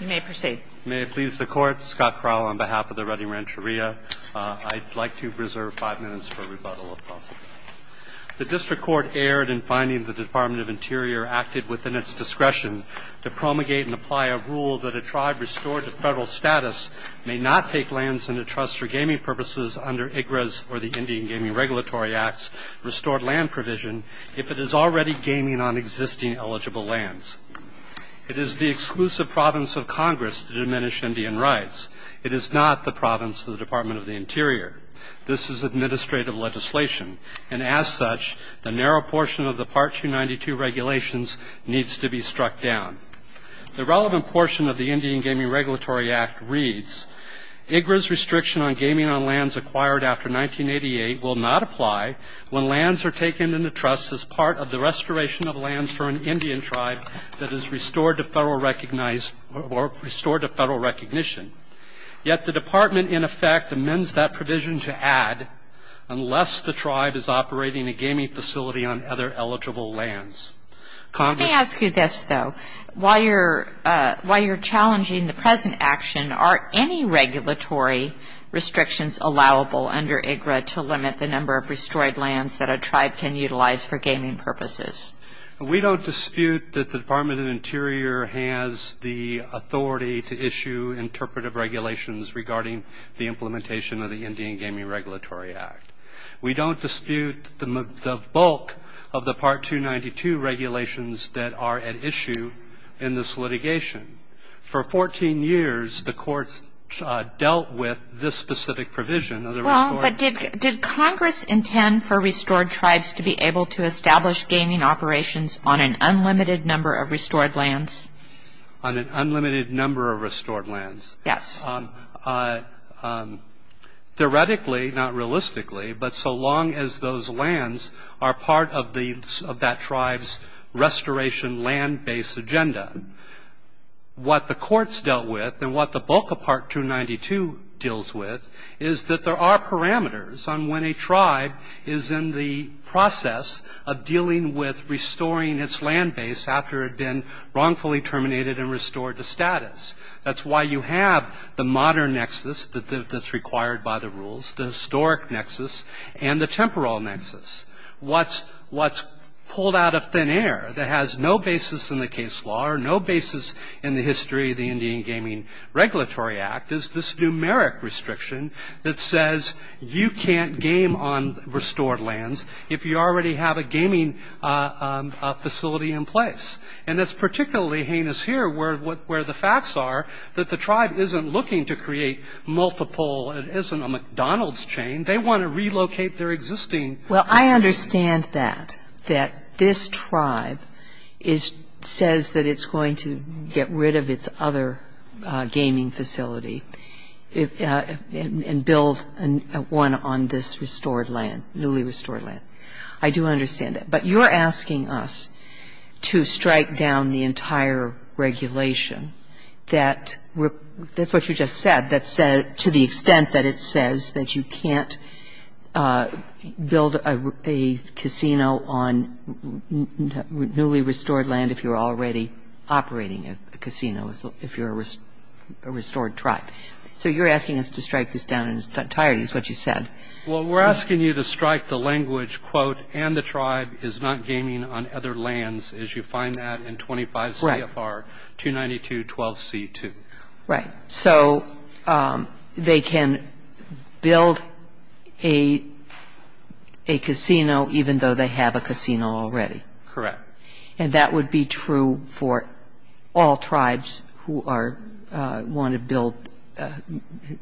You may proceed. May it please the Court, Scott Crowell on behalf of the Redding Rancheria. I'd like to reserve five minutes for rebuttal if possible. The District Court erred in finding the Department of Interior acted within its discretion to promulgate and apply a rule that a tribe restored to federal status may not take lands in a trust for gaming purposes under IGRES or the Indian Gaming Regulatory Act's restored land provision if it is already gaming on existing eligible lands. It is the exclusive province of Congress to diminish Indian rights. It is not the province of the Department of the Interior. This is administrative legislation, and as such, the narrow portion of the Part 292 regulations needs to be struck down. The relevant portion of the Indian Gaming Regulatory Act reads, IGRES restriction on gaming on lands acquired after 1988 will not apply when lands are taken in a trust as part of the restoration of lands for an Indian tribe that is restored to federal recognized or restored to federal recognition. Yet the Department, in effect, amends that provision to add unless the tribe is operating a gaming facility on other eligible lands. Let me ask you this, though. While you're challenging the present action, are any regulatory restrictions allowable under IGRES to limit the number of restored lands that a tribe can utilize for gaming purposes? We don't dispute that the Department of the Interior has the authority to issue interpretive regulations regarding the implementation of the Indian Gaming Regulatory Act. We don't dispute the bulk of the Part 292 regulations that are at issue in this litigation. For 14 years, the courts dealt with this specific provision. Well, but did Congress intend for restored tribes to be able to establish gaming operations on an unlimited number of restored lands? On an unlimited number of restored lands? Yes. Theoretically, not realistically, but so long as those lands are part of that tribe's restoration land base agenda. What the courts dealt with and what the bulk of Part 292 deals with is that there are parameters on when a tribe is in the process of dealing with restoring its land base after it had been wrongfully terminated and restored to status. That's why you have the modern nexus that's required by the rules, the historic nexus, and the temporal nexus. What's pulled out of thin air that has no basis in the case law or no basis in the history of the Indian Gaming Regulatory Act is this numeric restriction that says you can't game on restored lands if you already have a gaming facility in place. And it's particularly heinous here where the facts are that the tribe isn't looking to create multiple, it isn't a McDonald's chain. They want to relocate their existing. Well, I understand that, that this tribe says that it's going to get rid of its other gaming facility and build one on this restored land, newly restored land. I do understand that. But you're asking us to strike down the entire regulation that, that's what you just said, that said to the extent that it says that you can't build a casino on newly restored land if you're already operating a casino, if you're a restored tribe. So you're asking us to strike this down in its entirety is what you said. Well, we're asking you to strike the language, quote, and the tribe is not gaming on other lands as you find that in 25 CFR 292.12c2. Right. So they can build a casino even though they have a casino already. Correct. And that would be true for all tribes who want to build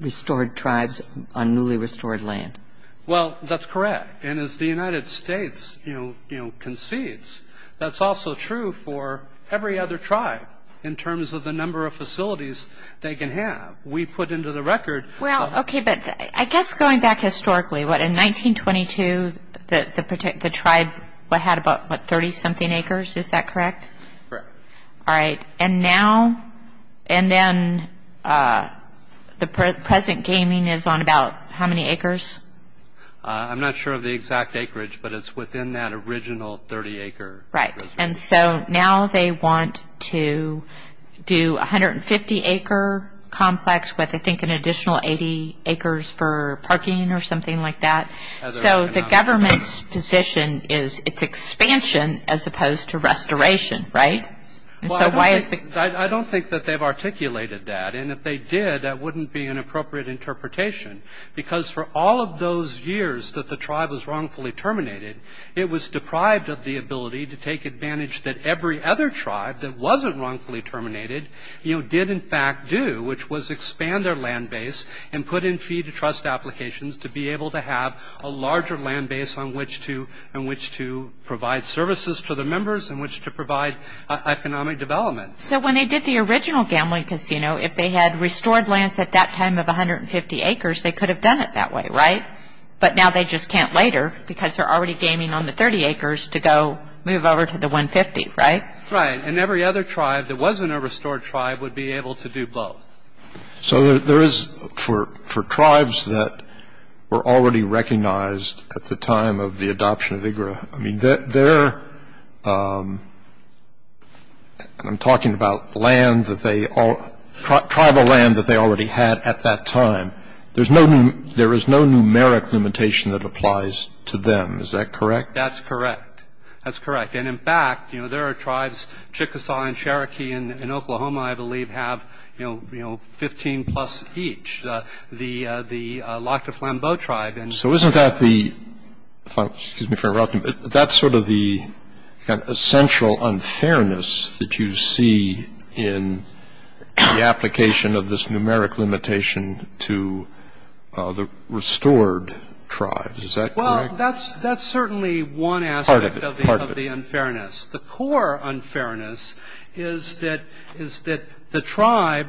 restored tribes on newly restored land. Well, that's correct. And as the United States concedes, that's also true for every other tribe in terms of the number of facilities they can have. We put into the record. Well, okay, but I guess going back historically, what, in 1922, the tribe had about, what, 30-something acres. Is that correct? Correct. All right. And now and then the present gaming is on about how many acres? I'm not sure of the exact acreage, but it's within that original 30-acre. Right. And so now they want to do 150-acre complex with, I think, an additional 80 acres for parking or something like that. So the government's position is it's expansion as opposed to restoration, right? I don't think that they've articulated that, and if they did, that wouldn't be an appropriate interpretation because for all of those years that the tribe was wrongfully terminated, it was deprived of the ability to take advantage that every other tribe that wasn't wrongfully terminated did, in fact, do, which was expand their land base and put in fee-to-trust applications to be able to have a larger land base on which to provide services to the members and which to provide economic development. So when they did the original gambling casino, if they had restored lands at that time of 150 acres, they could have done it that way, right? But now they just can't later because they're already gaming on the 30 acres to go move over to the 150, right? Right. And every other tribe that wasn't a restored tribe would be able to do both. So there is, for tribes that were already recognized at the time of the adoption of IGRA, I mean, they're – and I'm talking about lands that they – tribal land that they already had at that time. There's no – there is no numeric limitation that applies to them. Is that correct? That's correct. That's correct. And, in fact, you know, there are tribes – Chickasaw and Cherokee in Oklahoma, I believe, have, you know, 15-plus each. The Lac du Flambeau tribe and – So isn't that the – excuse me for interrupting, but that's sort of the essential unfairness that you see in the application of this numeric limitation to the restored tribes. Is that correct? Well, that's certainly one aspect of the unfairness. Part of it. The core unfairness is that the tribe,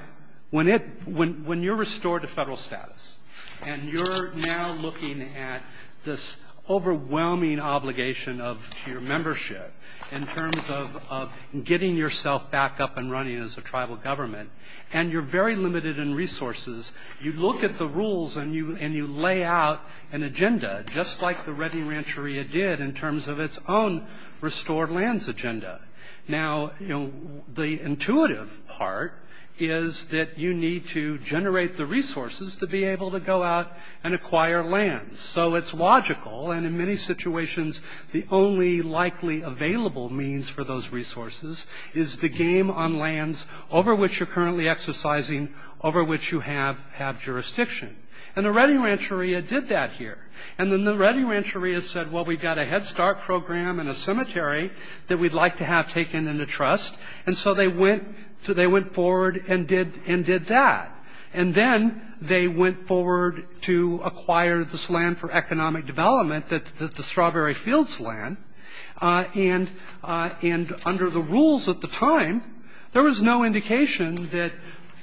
when it – when you're restored to federal status and you're now looking at this overwhelming obligation of your membership in terms of getting yourself back up and running as a tribal government, and you're very limited in resources, you look at the rules and you lay out an agenda, just like the Reddy Rancheria did in terms of its own restored lands agenda. Now, you know, the intuitive part is that you need to generate the resources to be able to go out and acquire lands. So it's logical. And in many situations, the only likely available means for those resources is the game on lands over which you're currently exercising, over which you have jurisdiction. And the Reddy Rancheria did that here. And then the Reddy Rancheria said, well, we've got a Head Start program and a cemetery that we'd like to have taken into trust. And so they went forward and did that. And then they went forward to acquire this land for economic development, the Strawberry Fields land. And under the rules at the time, there was no indication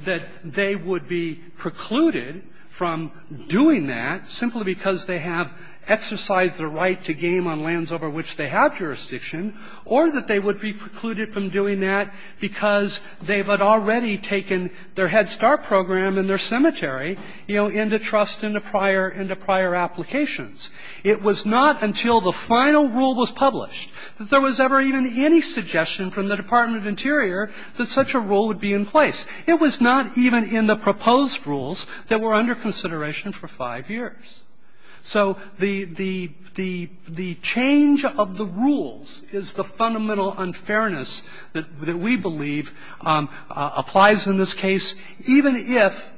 that they would be precluded from doing that simply because they have exercised their right to game on lands over which they have jurisdiction, or that they would be precluded from doing that because they had already taken their Head Start program and their cemetery, you know, into trust into prior applications. It was not until the final rule was published that there was ever even any suggestion from the Department of Interior that such a rule would be in place. It was not even in the proposed rules that were under consideration for five years. So the change of the rules is the fundamental unfairness that we believe applies in this case, even if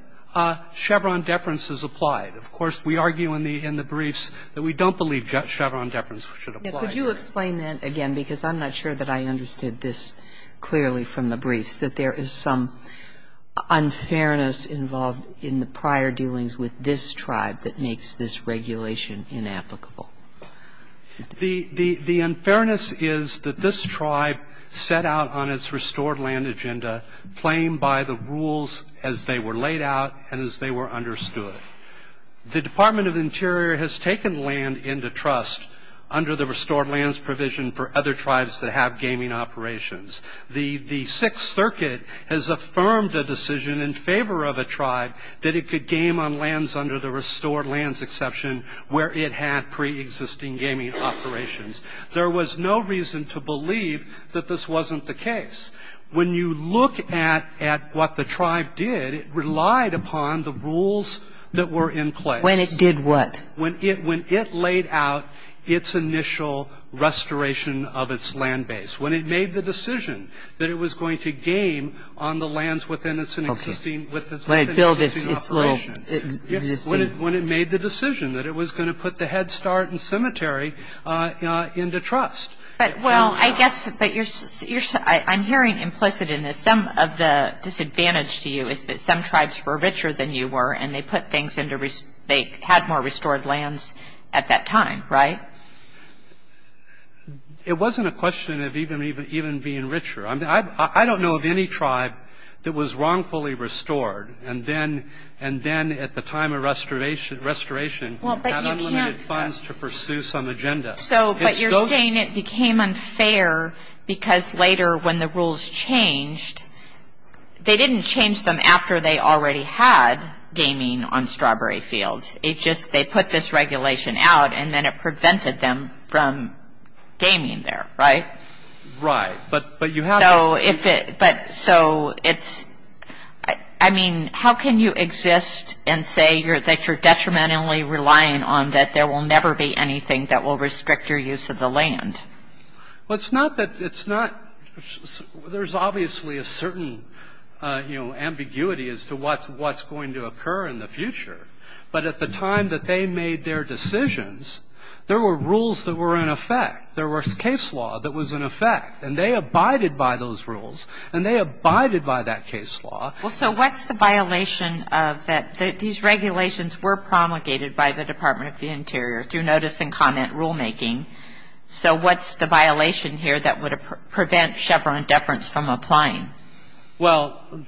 Chevron deference is applied. Of course, we argue in the briefs that we don't believe Chevron deference should apply. Kagan. Could you explain that again, because I'm not sure that I understood this clearly from the briefs, that there is some unfairness involved in the prior dealings with this tribe that makes this regulation inapplicable? The unfairness is that this tribe set out on its restored land agenda, playing by the rules as they were laid out and as they were understood. The Department of Interior has taken land into trust under the restored lands provision for other tribes that have gaming operations. The Sixth Circuit has affirmed a decision in favor of a tribe that it could game on lands under the restored lands exception where it had preexisting gaming operations. There was no reason to believe that this wasn't the case. When you look at what the tribe did, it relied upon the rules that were in place. When it did what? When it laid out its initial restoration of its land base. When it made the decision that it was going to game on the lands within its existing region. When it made the decision that it was going to put the Head Start and cemetery into trust. But, well, I guess, but you're, I'm hearing implicit in this, some of the disadvantage to you is that some tribes were richer than you were and they put things into, they had more restored lands at that time, right? It wasn't a question of even being richer. I don't know of any tribe that was wrongfully restored and then at the time of restoration had unlimited funds to pursue some agenda. So, but you're saying it became unfair because later when the rules changed, they didn't change them after they already had gaming on strawberry fields. It just, they put this regulation out and then it prevented them from gaming there, right? Right. But you have to. So if it, but, so it's, I mean, how can you exist and say that you're detrimentally relying on that there will never be anything that will restrict your use of the land? Well, it's not that, it's not, there's obviously a certain, you know, ambiguity as to what's going to occur in the future. But at the time that they made their decisions, there were rules that were in effect. There were case law that was in effect. And they abided by those rules. And they abided by that case law. Well, so what's the violation of that? These regulations were promulgated by the Department of the Interior through notice and comment rulemaking. So what's the violation here that would prevent Chevron deference from applying? Well,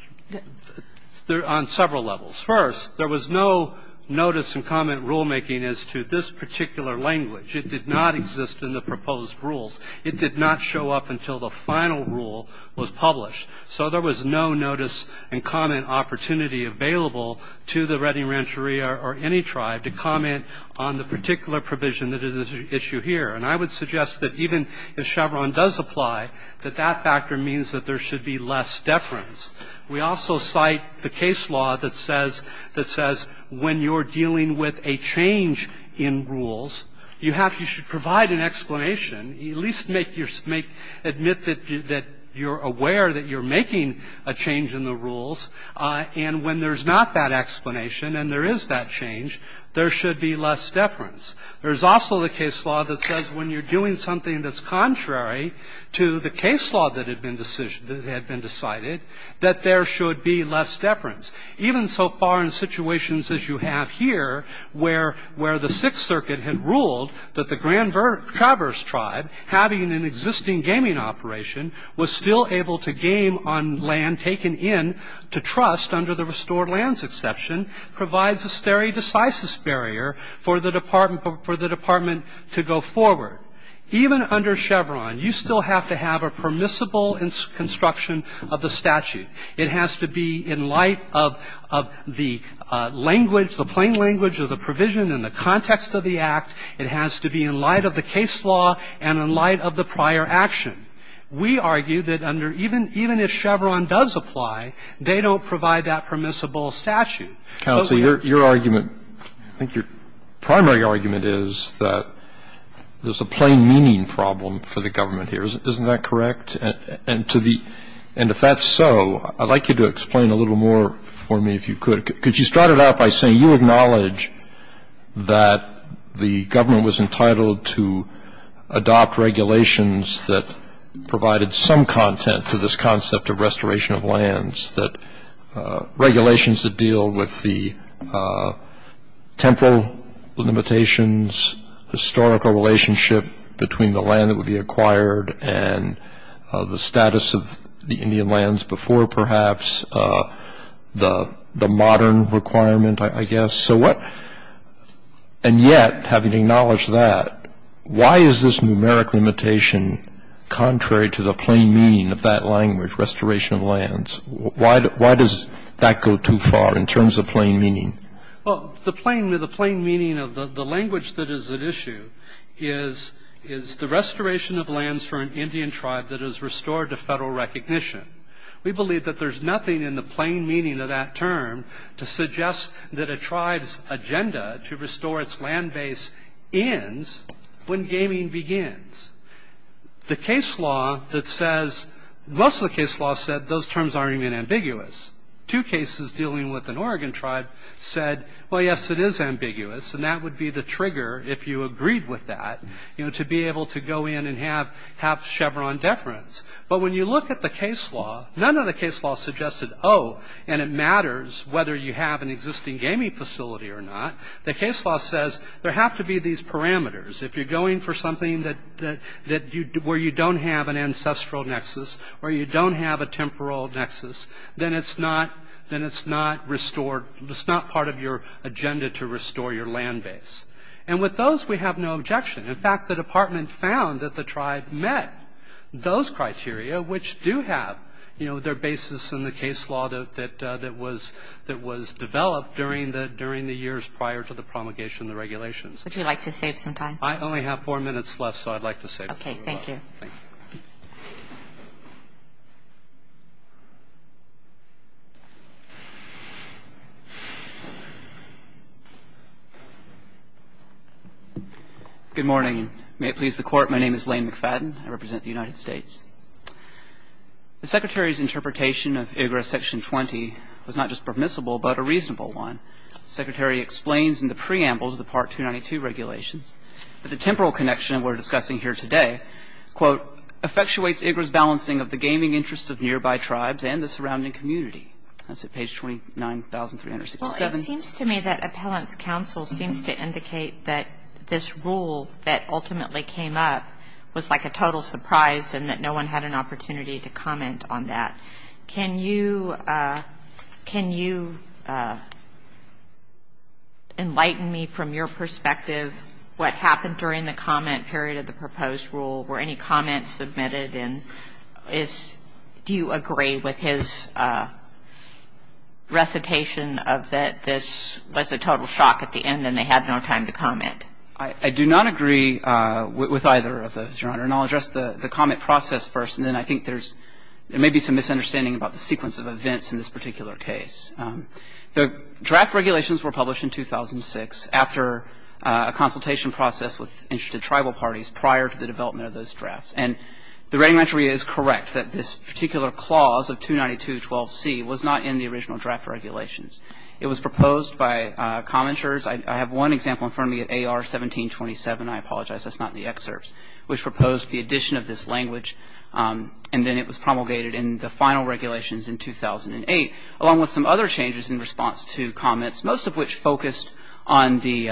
on several levels. First, there was no notice and comment rulemaking as to this particular language. It did not exist in the proposed rules. It did not show up until the final rule was published. So there was no notice and comment opportunity available to the Redding Rancheria or any tribe to comment on the particular provision that is at issue here. And I would suggest that even if Chevron does apply, that that factor means that there should be less deference. We also cite the case law that says when you're dealing with a change in rules, you have to provide an explanation. At least admit that you're aware that you're making a change in the rules. And when there's not that explanation and there is that change, there should be less deference. There's also the case law that says when you're doing something that's contrary to the case law that had been decided, that there should be less deference. Even so far in situations as you have here, where the Sixth Circuit had ruled that the Grand Traverse Tribe, having an existing gaming operation, was still able to game on land taken in to trust under the restored lands exception, provides a stare decisis barrier for the department to go forward. Even under Chevron, you still have to have a permissible construction of the statute. It has to be in light of the language, the plain language of the provision and the context of the act. It has to be in light of the case law and in light of the prior action. We argue that under even if Chevron does apply, they don't provide that permissible statute. Your argument, I think your primary argument is that there's a plain meaning problem for the government here. Isn't that correct? And if that's so, I'd like you to explain a little more for me if you could. Because you started out by saying you acknowledge that the government was entitled to adopt regulations that provided some content to this concept of restoration of lands, that regulations that deal with the temporal limitations, historical relationship between the land that would be acquired and the status of the Indian lands before perhaps the modern requirement, I guess. So what, and yet having acknowledged that, why is this numeric limitation contrary to the plain meaning of that language, restoration of lands? Why does that go too far in terms of plain meaning? Well, the plain meaning of the language that is at issue is the restoration of lands for an Indian tribe that is restored to Federal recognition. We believe that there's nothing in the plain meaning of that term to suggest that a tribe's agenda to restore its land base ends when gaming begins. The case law that says, most of the case law said those terms aren't even ambiguous. Two cases dealing with an Oregon tribe said, well, yes, it is ambiguous. And that would be the trigger, if you agreed with that, to be able to go in and have Chevron deference. But when you look at the case law, none of the case law suggested, oh, and it matters whether you have an existing gaming facility or not. The case law says there have to be these parameters. If you're going for something where you don't have an ancestral nexus or you don't have a temporal nexus, then it's not restored. It's not part of your agenda to restore your land base. And with those, we have no objection. In fact, the Department found that the tribe met those criteria, which do have their basis in the case law that was developed during the years prior to the promulgation of the regulations. Would you like to save some time? I only have four minutes left, so I'd like to save some time. Okay. Thank you. Thank you. Good morning. May it please the Court. My name is Lane McFadden. I represent the United States. The Secretary's interpretation of Igres Section 20 was not just permissible, but a reasonable one. The Secretary explains in the preamble to the Part 292 regulations that the temporal connection we're discussing here today, quote, effectuates Igres' balancing of the gaming interests of nearby tribes and the surrounding community. That's at page 29,367. Well, it seems to me that Appellant's counsel seems to indicate that this rule that ultimately came up was like a total surprise and that no one had an opportunity to comment on that. Can you enlighten me from your perspective what happened during the comment period of the proposed rule? Were any comments submitted? And is do you agree with his recitation of that this was a total shock at the end and they had no time to comment? I do not agree with either of those, Your Honor. And I'll address the comment process first. And then I think there's maybe some misunderstanding about the sequence of events in this particular case. The draft regulations were published in 2006 after a consultation process with interested tribal parties prior to the development of those drafts. And the regulatory is correct that this particular clause of 292.12c was not in the original draft regulations. It was proposed by commenters. I have one example in front of me at AR 1727. I apologize. That's not in the excerpts. Which proposed the addition of this language. And then it was promulgated in the final regulations in 2008, along with some other changes in response to comments, most of which focused on the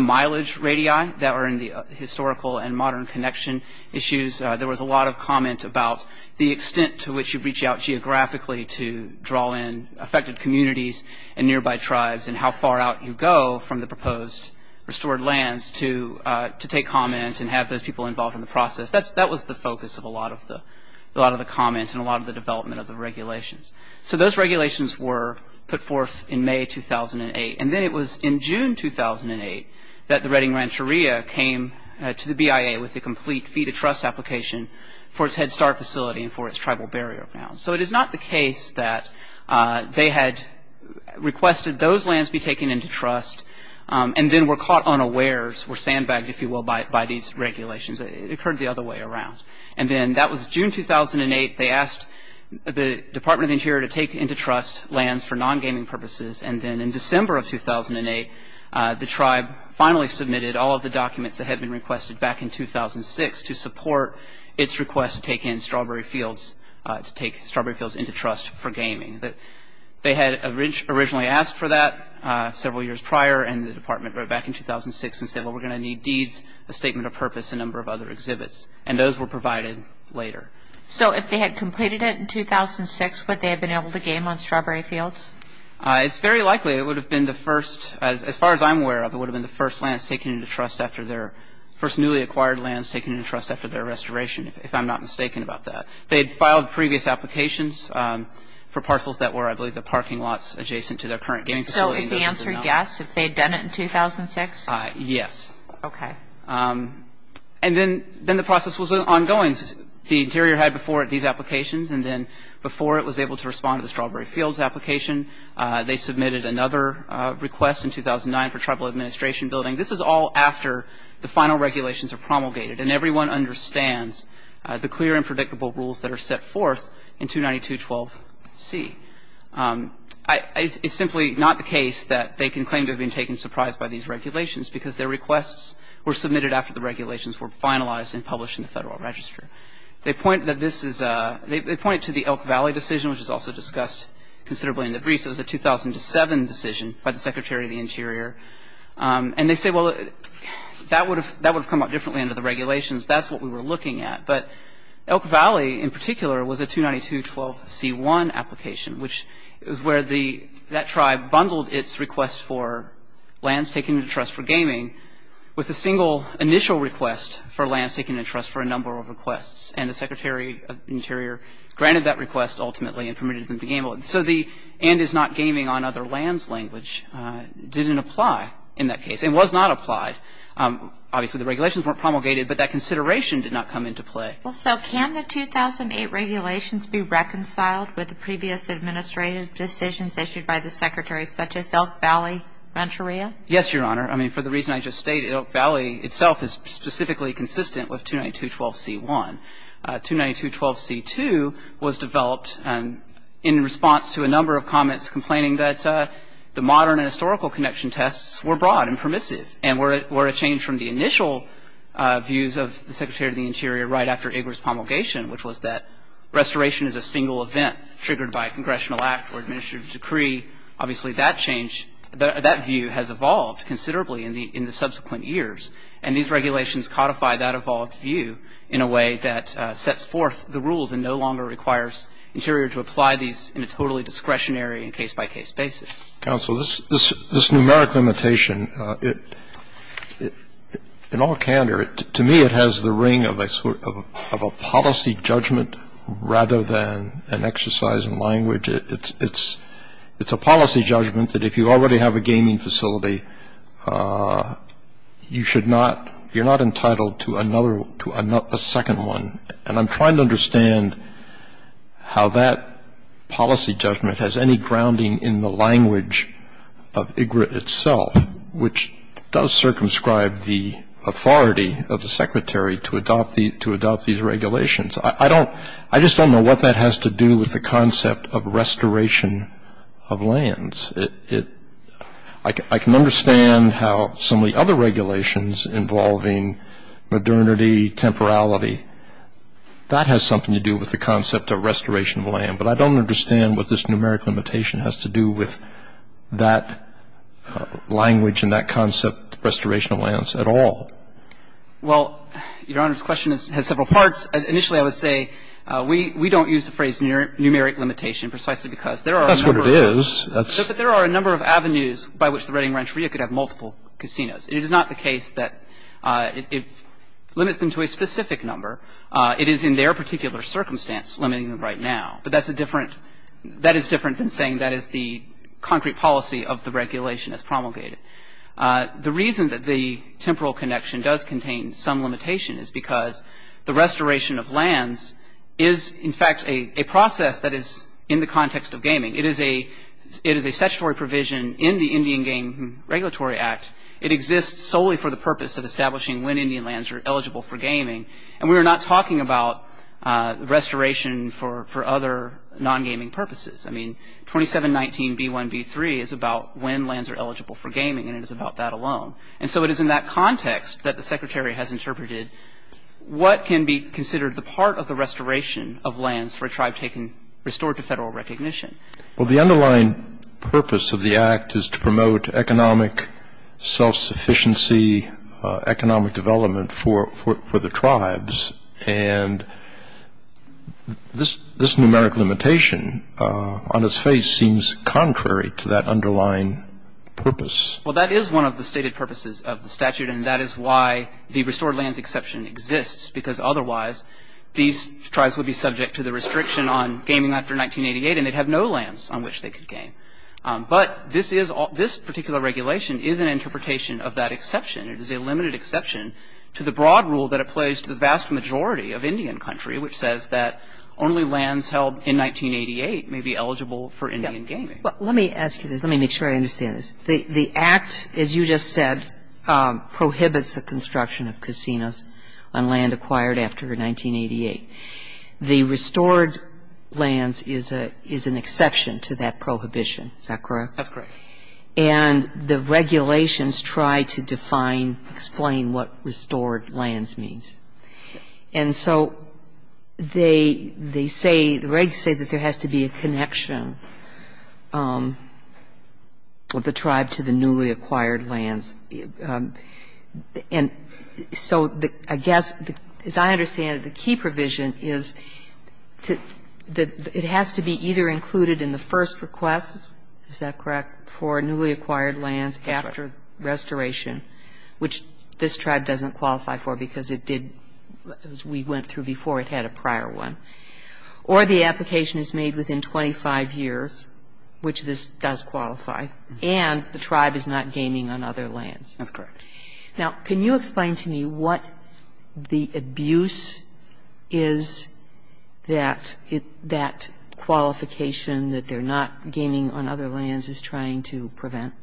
mileage radii that were in the historical and modern connection issues. There was a lot of comment about the extent to which you reach out geographically to draw in affected communities and nearby tribes and how far out you go from the proposed restored lands to take comments and have those people involved in the process. That was the focus of a lot of the comments and a lot of the development of the regulations. So those regulations were put forth in May 2008. And then it was in June 2008 that the Redding Rancheria came to the BIA with a complete fee-to-trust application for its Head Start facility and for its tribal barrier grounds. So it is not the case that they had requested those lands be taken into trust and then were caught unawares, were sandbagged, if you will, by these regulations. It occurred the other way around. And then that was June 2008. They asked the Department of the Interior to take into trust lands for non-gaming purposes. And then in December of 2008, the tribe finally submitted all of the documents that had been requested back in 2006 to support its request to take in strawberry fields, to take strawberry fields into trust for gaming. They had originally asked for that several years prior, and the Department wrote back in 2006 and said, well, we're going to need deeds, a statement of purpose, a number of other exhibits. And those were provided later. So if they had completed it in 2006, would they have been able to game on strawberry fields? It's very likely. It would have been the first, as far as I'm aware of, it would have been the first lands taken into trust after their first newly acquired lands taken into trust after their restoration, if I'm not mistaken about that. They had filed previous applications for parcels that were, I believe, the parking lots adjacent to their current gaming facility. So is the answer yes, if they had done it in 2006? Yes. Okay. And then the process was ongoing. The Interior had before it these applications, and then before it was able to respond to the strawberry fields application, they submitted another request in 2009 for tribal administration building. This is all after the final regulations are promulgated, and everyone understands the clear and predictable rules that are set forth in 292.12c. It's simply not the case that they can claim to have been taken surprise by these regulations because their requests were submitted after the regulations were finalized and published in the Federal Register. They point to the Elk Valley decision, which is also discussed considerably in the briefs. And they say, well, that would have come up differently under the regulations. That's what we were looking at. But Elk Valley, in particular, was a 292.12c.1 application, which is where that tribe bundled its request for lands taken into trust for gaming with a single initial request for lands taken into trust for a number of requests, and the Secretary of the Interior granted that request ultimately and permitted them to gamble. So the and is not gaming on other lands language didn't apply in that case and was not applied. Obviously, the regulations weren't promulgated, but that consideration did not come into play. So can the 2008 regulations be reconciled with the previous administrative decisions issued by the Secretary, such as Elk Valley Venturia? Yes, Your Honor. I mean, for the reason I just stated, Elk Valley itself is specifically consistent with 292.12c.1. 292.12c.2 was developed in response to a number of comments complaining that the modern and historical connection tests were broad and permissive and were a change from the initial views of the Secretary of the Interior right after Igor's promulgation, which was that restoration is a single event triggered by a congressional act or administrative decree. Obviously, that change, that view has evolved considerably in the subsequent years, and these regulations codify that evolved view in a way that sets forth the rules and no longer requires Interior to apply these in a totally discretionary and case-by-case basis. Counsel, this numeric limitation, in all candor, to me it has the ring of a policy judgment rather than an exercise in language. It's a policy judgment that if you already have a gaming facility, you're not entitled to a second one, and I'm trying to understand how that policy judgment has any grounding in the language of IGRA itself, which does circumscribe the authority of the Secretary to adopt these regulations. I just don't know what that has to do with the concept of restoration of lands. I can understand how some of the other regulations involving modernity, temporality, that has something to do with the concept of restoration of land, but I don't understand what this numeric limitation has to do with that language and that concept of restoration of lands at all. Well, Your Honor, this question has several parts. Initially, I would say we don't use the phrase numeric limitation precisely because there are a number of ways. That's what it is. There are a number of avenues by which the Reading Rancheria could have multiple casinos. It is not the case that it limits them to a specific number. It is in their particular circumstance limiting them right now. But that's a different – that is different than saying that is the concrete policy of the regulation as promulgated. The reason that the temporal connection does contain some limitation is because the restoration of lands is, in fact, a process that is in the context of gaming. It is a statutory provision in the Indian Game Regulatory Act. It exists solely for the purpose of establishing when Indian lands are eligible for gaming, and we are not talking about restoration for other non-gaming purposes. I mean, 2719B1B3 is about when lands are eligible for gaming, and it is about that alone. And so it is in that context that the Secretary has interpreted what can be considered the part of the restoration of lands for a tribe restored to federal recognition. Well, the underlying purpose of the Act is to promote economic self-sufficiency, economic development for the tribes. And this numeric limitation on its face seems contrary to that underlying purpose. Well, that is one of the stated purposes of the statute, and that is why the restored lands exception exists, because otherwise these tribes would be subject to the restriction on gaming after 1988, and they'd have no lands on which they could game. But this is – this particular regulation is an interpretation of that exception. It is a limited exception to the broad rule that applies to the vast majority of Indian country, which says that only lands held in 1988 may be eligible for Indian gaming. Well, let me ask you this. Let me make sure I understand this. The Act, as you just said, prohibits the construction of casinos on land acquired after 1988. The restored lands is an exception to that prohibition. Is that correct? That's correct. And the regulations try to define, explain what restored lands means. And so they say, the regs say that there has to be a connection of the tribe to the newly acquired lands. And so I guess, as I understand it, the key provision is that it has to be either included in the first request, is that correct, for newly acquired lands after restoration, which this tribe doesn't qualify for because it did, as we went through before, it had a prior one, or the application is made within 25 years, which this does qualify, and the tribe is not gaming on other lands. That's correct. Now, can you explain to me what the abuse is that that qualification, that they're not gaming on other lands, is trying to prevent?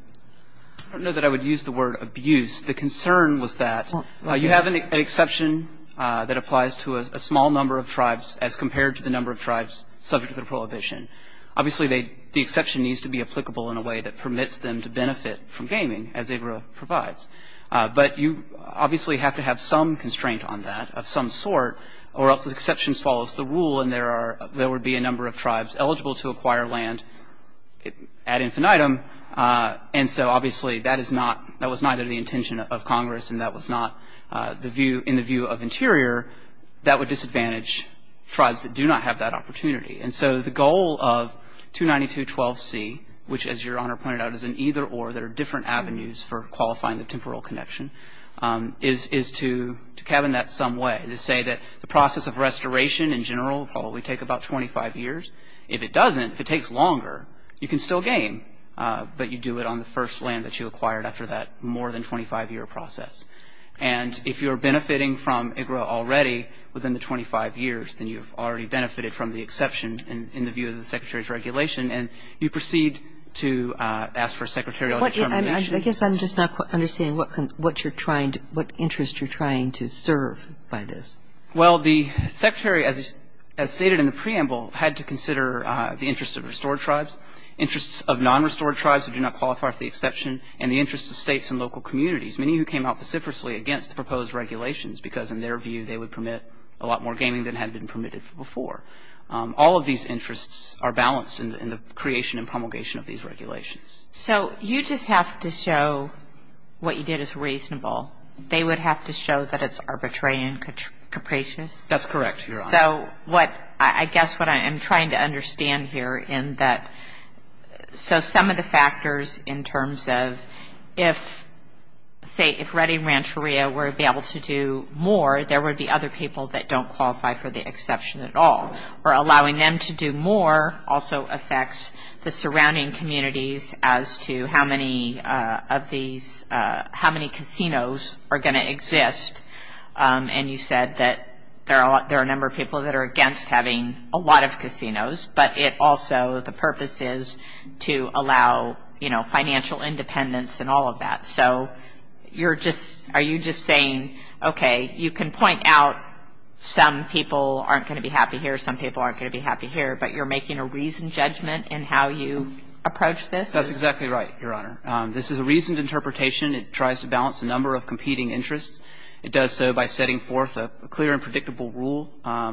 I don't know that I would use the word abuse. The concern was that you have an exception that applies to a small number of tribes as compared to the number of tribes subject to the prohibition. Obviously, the exception needs to be applicable in a way that permits them to benefit from gaming, as ABRA provides. But you obviously have to have some constraint on that of some sort, or else the exception swallows the rule and there would be a number of tribes eligible to acquire land ad infinitum, and so obviously that was not of the intention of Congress, and that was not in the view of Interior. That would disadvantage tribes that do not have that opportunity. And so the goal of 292.12c, which, as Your Honor pointed out, is an either-or that are different avenues for qualifying the temporal connection, is to cabin that some way, to say that the process of restoration in general will probably take about 25 years. If it doesn't, if it takes longer, you can still game, but you do it on the first land that you acquired after that more than 25-year process. And if you're benefiting from IGRA already within the 25 years, then you've already benefited from the exception in the view of the Secretary's regulation, and you proceed to ask for a secretarial determination. I guess I'm just not quite understanding what you're trying to, what interest you're trying to serve by this. Well, the Secretary, as stated in the preamble, had to consider the interest of restored tribes, interests of non-restored tribes who do not qualify for the exception, and the interests of States and local communities, many who came out vociferously against the proposed regulations, because in their view they would permit a lot more gaming than had been permitted before. All of these interests are balanced in the creation and promulgation of these regulations. So you just have to show what you did is reasonable. They would have to show that it's arbitrary and capricious? That's correct, Your Honor. So what, I guess what I am trying to understand here in that, so some of the factors in terms of if, say, if Redding Rancheria were to be able to do more, there would be other people that don't qualify for the exception at all. Or allowing them to do more also affects the surrounding communities as to how many of these, how many casinos are going to exist. And you said that there are a number of people that are against having a lot of casinos, but it also, the purpose is to allow, you know, financial independence and all of that. So you're just, are you just saying, okay, you can point out some people aren't going to be happy here, some people aren't going to be happy here, but you're making a reasoned judgment in how you approach this? That's exactly right, Your Honor. This is a reasoned interpretation. It tries to balance a number of competing interests. It does so by setting forth a clear and predictable rule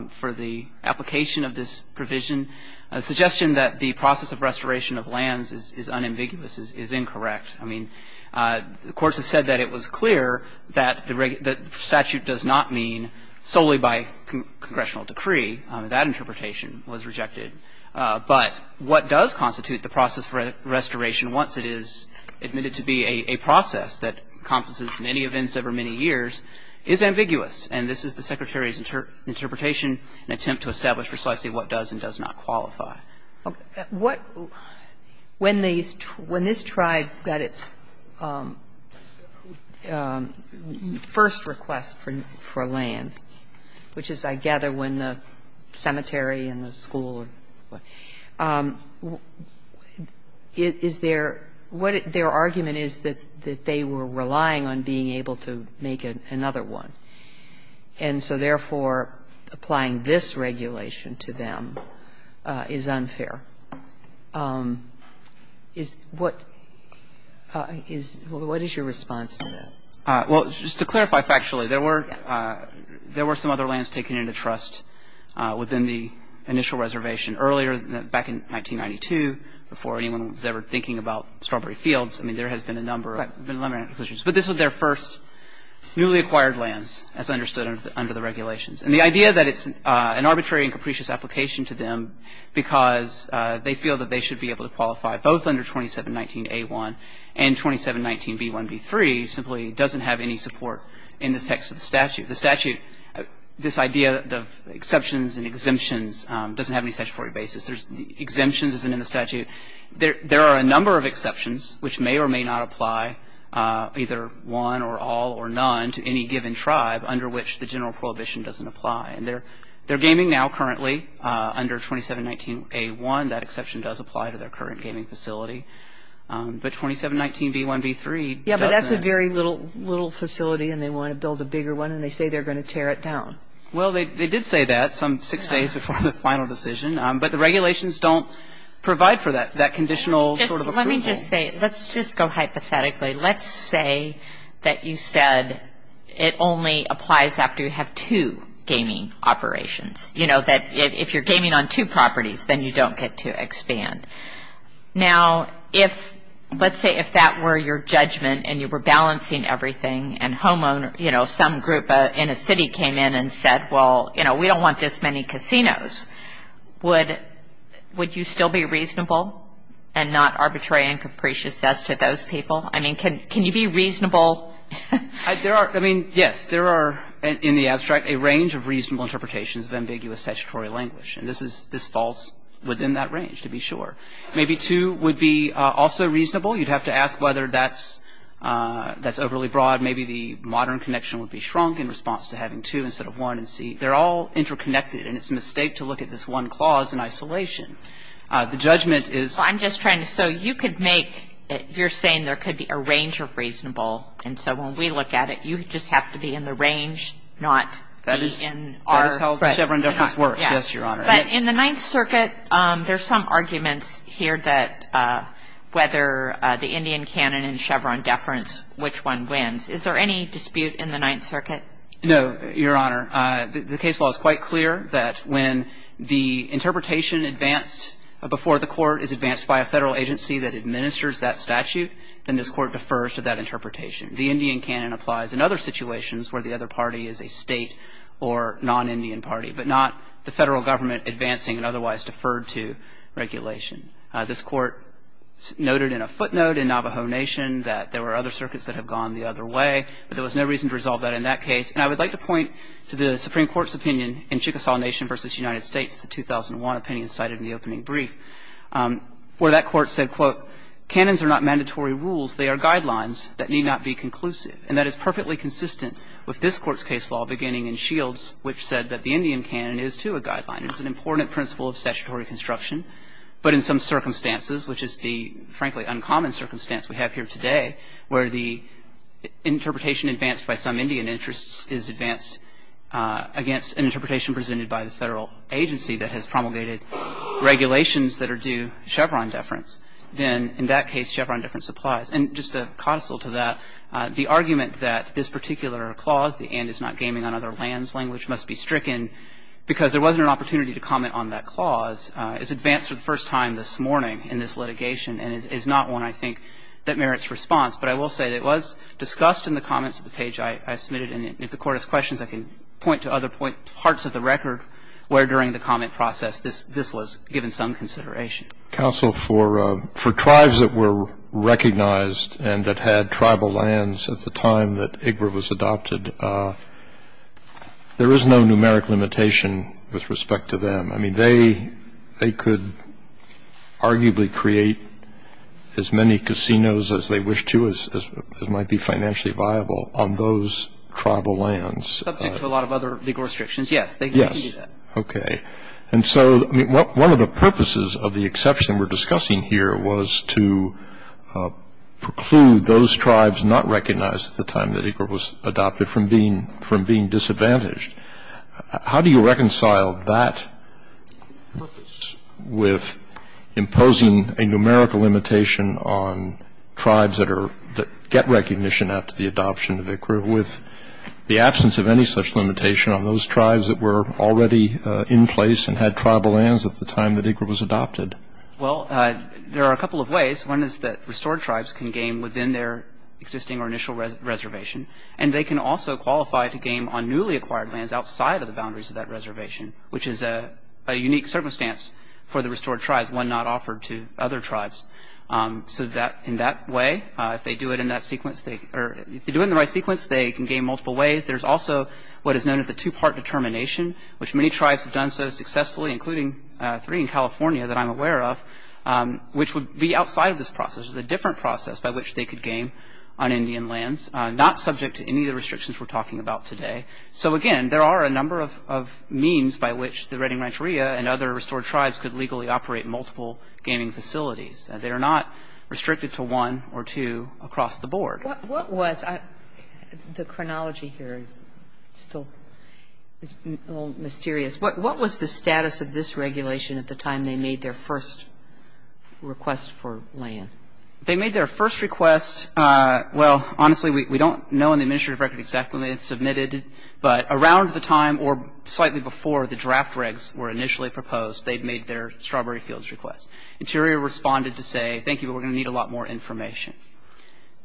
for the application of this provision. A suggestion that the process of restoration of lands is unambiguous is incorrect. I mean, the courts have said that it was clear that the statute does not mean solely by congressional decree. That interpretation was rejected. But what does constitute the process for restoration once it is admitted to be a process that encompasses many events over many years is ambiguous. And this is the Secretary's interpretation, an attempt to establish precisely what does and does not qualify. Okay. What, when this tribe got its first request for land, which is, I gather, when the cemetery and the school and what, what their argument is that they were relying on being able to make another one. And so, therefore, applying this regulation to them is unfair. What is your response to that? Well, just to clarify factually, there were some other lands taken into trust within the initial reservation earlier, back in 1992, before anyone was ever thinking about Strawberry Fields. I mean, there has been a number of limitations. But this was their first newly acquired lands, as understood under the regulations. And the idea that it's an arbitrary and capricious application to them because they feel that they should be able to qualify both under 2719a1 and 2719b1b3 simply doesn't have any support in the text of the statute. The statute, this idea of exceptions and exemptions doesn't have any statutory basis. Exemptions isn't in the statute. There are a number of exceptions which may or may not apply, either one or all or none, to any given tribe under which the general prohibition doesn't apply. And they're gaming now currently under 2719a1. That exception does apply to their current gaming facility. But 2719b1b3 doesn't. That's a very little facility, and they want to build a bigger one, and they say they're going to tear it down. Well, they did say that some six days before the final decision. But the regulations don't provide for that conditional sort of approval. Let me just say, let's just go hypothetically. Let's say that you said it only applies after you have two gaming operations, you know, that if you're gaming on two properties, then you don't get to expand. Now, if, let's say if that were your judgment and you were balancing everything and homeowner, you know, some group in a city came in and said, well, you know, we don't want this many casinos, would you still be reasonable and not arbitrary and capricious as to those people? I mean, can you be reasonable? There are, I mean, yes. There are, in the abstract, a range of reasonable interpretations of ambiguous statutory language. And this falls within that range, to be sure. Maybe two would be also reasonable. You'd have to ask whether that's overly broad. Maybe the modern connection would be shrunk in response to having two instead of one. And see, they're all interconnected. And it's a mistake to look at this one clause in isolation. The judgment is. Well, I'm just trying to. So you could make, you're saying there could be a range of reasonable. And so when we look at it, you just have to be in the range, not be in our. And that's how the Chevron deference works. Yes, Your Honor. But in the Ninth Circuit, there's some arguments here that whether the Indian canon and Chevron deference, which one wins. Is there any dispute in the Ninth Circuit? No, Your Honor. The case law is quite clear that when the interpretation advanced before the court is advanced by a Federal agency that administers that statute, then this Court defers to that interpretation. The Indian canon applies in other situations where the other party is a State or non-Indian party, but not the Federal government advancing and otherwise deferred to regulation. This Court noted in a footnote in Navajo Nation that there were other circuits that have gone the other way, but there was no reason to resolve that in that case. And I would like to point to the Supreme Court's opinion in Chickasaw Nation v. United States, the 2001 opinion cited in the opening brief, where that Court said, quote, Canons are not mandatory rules. They are guidelines that need not be conclusive. And that is perfectly consistent with this Court's case law beginning in Shields, which said that the Indian canon is, too, a guideline. It's an important principle of statutory construction, but in some circumstances, which is the, frankly, uncommon circumstance we have here today, where the interpretation advanced by some Indian interests is advanced against an interpretation presented by the Federal agency that has promulgated regulations that are due Chevron deference, then in that case Chevron deference applies. And just a codicil to that, the argument that this particular clause, the and is not gaming on other lands language, must be stricken because there wasn't an opportunity to comment on that clause, is advanced for the first time this morning in this litigation and is not one, I think, that merits response. But I will say that it was discussed in the comments of the page I submitted, and if the Court has questions, I can point to other parts of the record where, during the comment process, this was given some consideration. Roberts. I'll be brief. Counsel, for tribes that were recognized and that had tribal lands at the time that IGRA was adopted, there is no numeric limitation with respect to them. I mean, they could arguably create as many casinos as they wished to, as might be financially viable on those tribal lands. Subject to a lot of other legal restrictions, yes. They can do that. Okay. And so one of the purposes of the exception we're discussing here was to preclude those tribes not recognized at the time that IGRA was adopted from being disadvantaged. How do you reconcile that with imposing a numerical limitation on tribes that get recognition after the adoption of IGRA with the absence of any such limitation on those tribes that were already in place and had tribal lands at the time that IGRA was adopted? Well, there are a couple of ways. One is that restored tribes can game within their existing or initial reservation, and they can also qualify to game on newly acquired lands outside of the boundaries of that reservation, which is a unique circumstance for the restored tribes, one not offered to other tribes. So in that way, if they do it in the right sequence, they can game multiple ways. There's also what is known as a two-part determination, which many tribes have done so successfully, including three in California that I'm aware of, which would be outside of this process. There's a different process by which they could game on Indian lands, not subject to any of the restrictions we're talking about today. So, again, there are a number of means by which the Redding Rancheria and other restored tribes could legally operate multiple gaming facilities. They are not restricted to one or two across the board. What was the chronology here is still a little mysterious. What was the status of this regulation at the time they made their first request for land? They made their first request, well, honestly, we don't know in the administrative record exactly when they had submitted, but around the time or slightly before the draft regs were initially proposed, they'd made their strawberry fields request. Interior responded to say, thank you, but we're going to need a lot more information.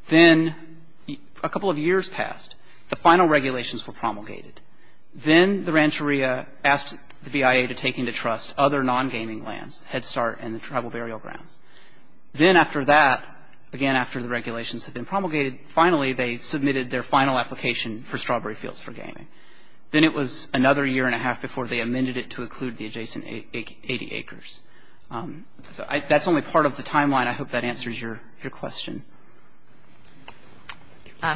Then a couple of years passed. The final regulations were promulgated. Then the Rancheria asked the BIA to take into trust other non-gaming lands, Head Start and the Tribal Burial Grounds. Then after that, again, after the regulations had been promulgated, finally they submitted their final application for strawberry fields for gaming. Then it was another year and a half before they amended it to include the adjacent 80 acres. So that's only part of the timeline. I hope that answers your question.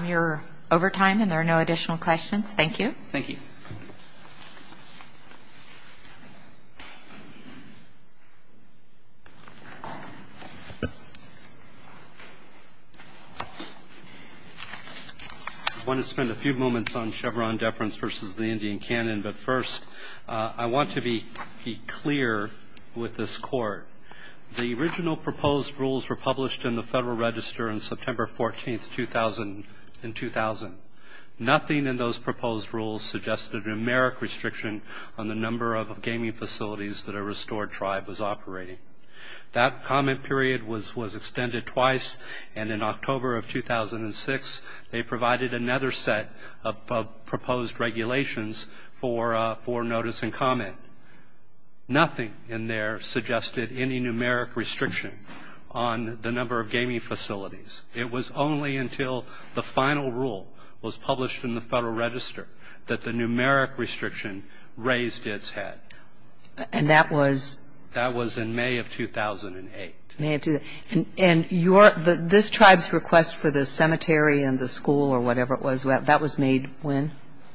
Your overtime and there are no additional questions. Thank you. Thank you. I want to spend a few moments on Chevron deference versus the Indian canon, but first I want to be clear with this Court. The original proposed rules were published in the Federal Register on September 14, 2000. Nothing in those proposed rules suggested a numeric restriction on the number of gaming facilities that a restored tribe was operating. That comment period was extended twice, and in October of 2006, they provided another set of proposed regulations for notice and comment. Nothing in there suggested any numeric restriction on the number of gaming facilities. It was only until the final rule was published in the Federal Register that the numeric restriction raised its head. And that was? That was in May of 2008. May of 2008. And this tribe's request for the cemetery and the school or whatever it was, that was made when?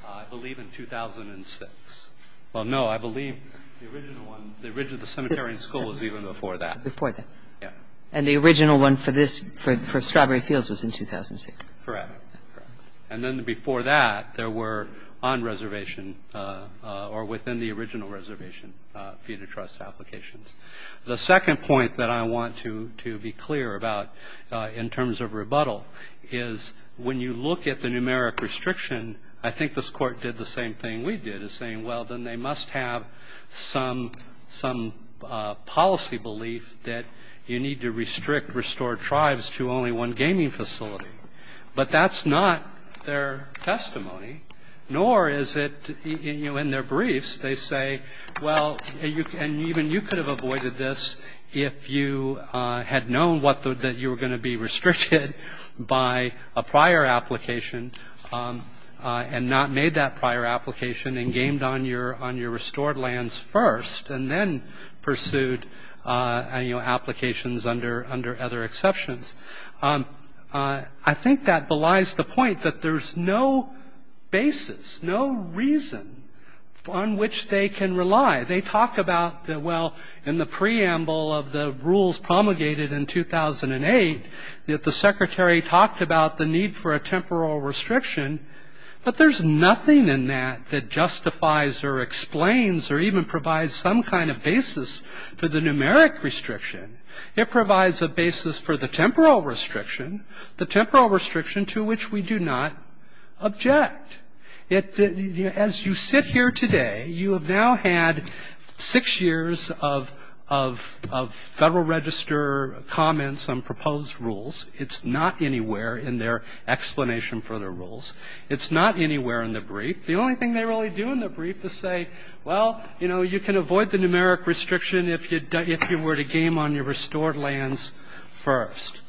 I believe in 2006. Well, no, I believe the original one, the origin of the cemetery and school was even before that. Before that. Yeah. And the original one for this, for Strawberry Fields was in 2006. Correct. Correct. And then before that, there were on reservation or within the original reservation feeder trust applications. The second point that I want to be clear about in terms of rebuttal is when you look at the numeric restriction, I think this Court did the same thing we did, is saying, well, then they must have some policy belief that you need to restrict restored tribes to only one gaming facility. But that's not their testimony, nor is it in their briefs. They say, well, and even you could have avoided this if you had known that you were going to be restricted by a prior application and not made that prior application and gamed on your restored lands first and then pursued applications under other exceptions. I think that belies the point that there's no basis, no reason on which they can rely. They talk about, well, in the preamble of the rules promulgated in 2008, that the secretary talked about the need for a temporal restriction, but there's nothing in that that justifies or explains or even provides some kind of basis for the numeric restriction. It provides a basis for the temporal restriction, the temporal restriction to which we do not object. As you sit here today, you have now had six years of Federal Register comments on proposed rules. It's not anywhere in their explanation for the rules. It's not anywhere in the brief. The only thing they really do in the brief is say, well, you know, you can avoid the numeric restriction if you were to game on your restored lands first.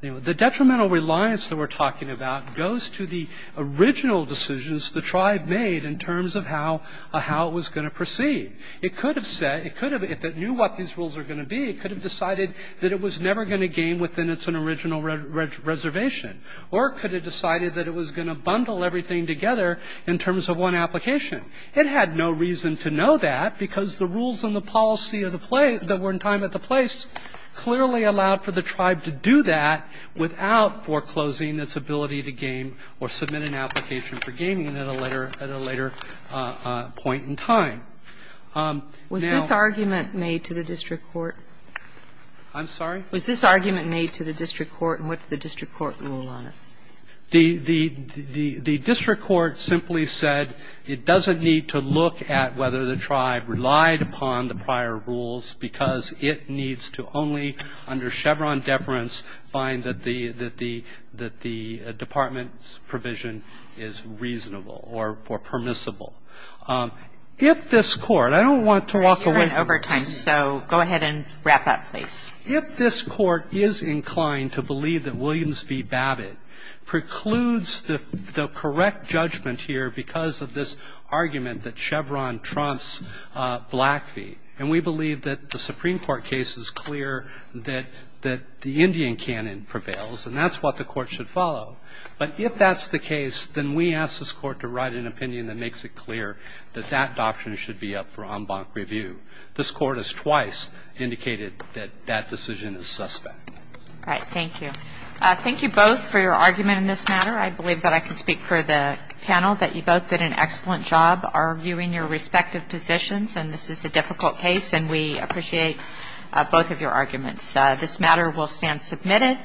You know, the detrimental reliance that we're talking about goes to the original decisions the tribe made in terms of how it was going to proceed. It could have said, it could have, if it knew what these rules were going to be, it could have decided that it was never going to game within its original reservation or it could have decided that it was going to bundle everything together in terms of one application. It had no reason to know that because the rules and the policy that were in time at the place clearly allowed for the tribe to do that without foreclosing its ability to game or submit an application for gaming at a later point in time. Now ---- Kagan. Was this argument made to the district court? Waxman. I'm sorry? Was this argument made to the district court? And what's the district court rule on it? Waxman. The district court simply said it doesn't need to look at whether the tribe relied upon the prior rules because it needs to only under Chevron deference find that the department's provision is reasonable or permissible. If this court, I don't want to walk away from this. Kagan. You're in overtime, so go ahead and wrap up, please. Waxman. If this court is inclined to believe that Williams v. Babbitt precludes the correct judgment here because of this argument that Chevron trumps Blackfeet, and we believe that the Supreme Court case is clear that the Indian canon prevails and that's what the court should follow. But if that's the case, then we ask this court to write an opinion that makes it clear that that doctrine should be up for en banc review. This court has twice indicated that that decision is suspect. Kagan. All right, thank you. Thank you both for your argument in this matter. I believe that I can speak for the panel, that you both did an excellent job arguing your respective positions, and this is a difficult case, and we appreciate both of your arguments. This matter will stand submitted.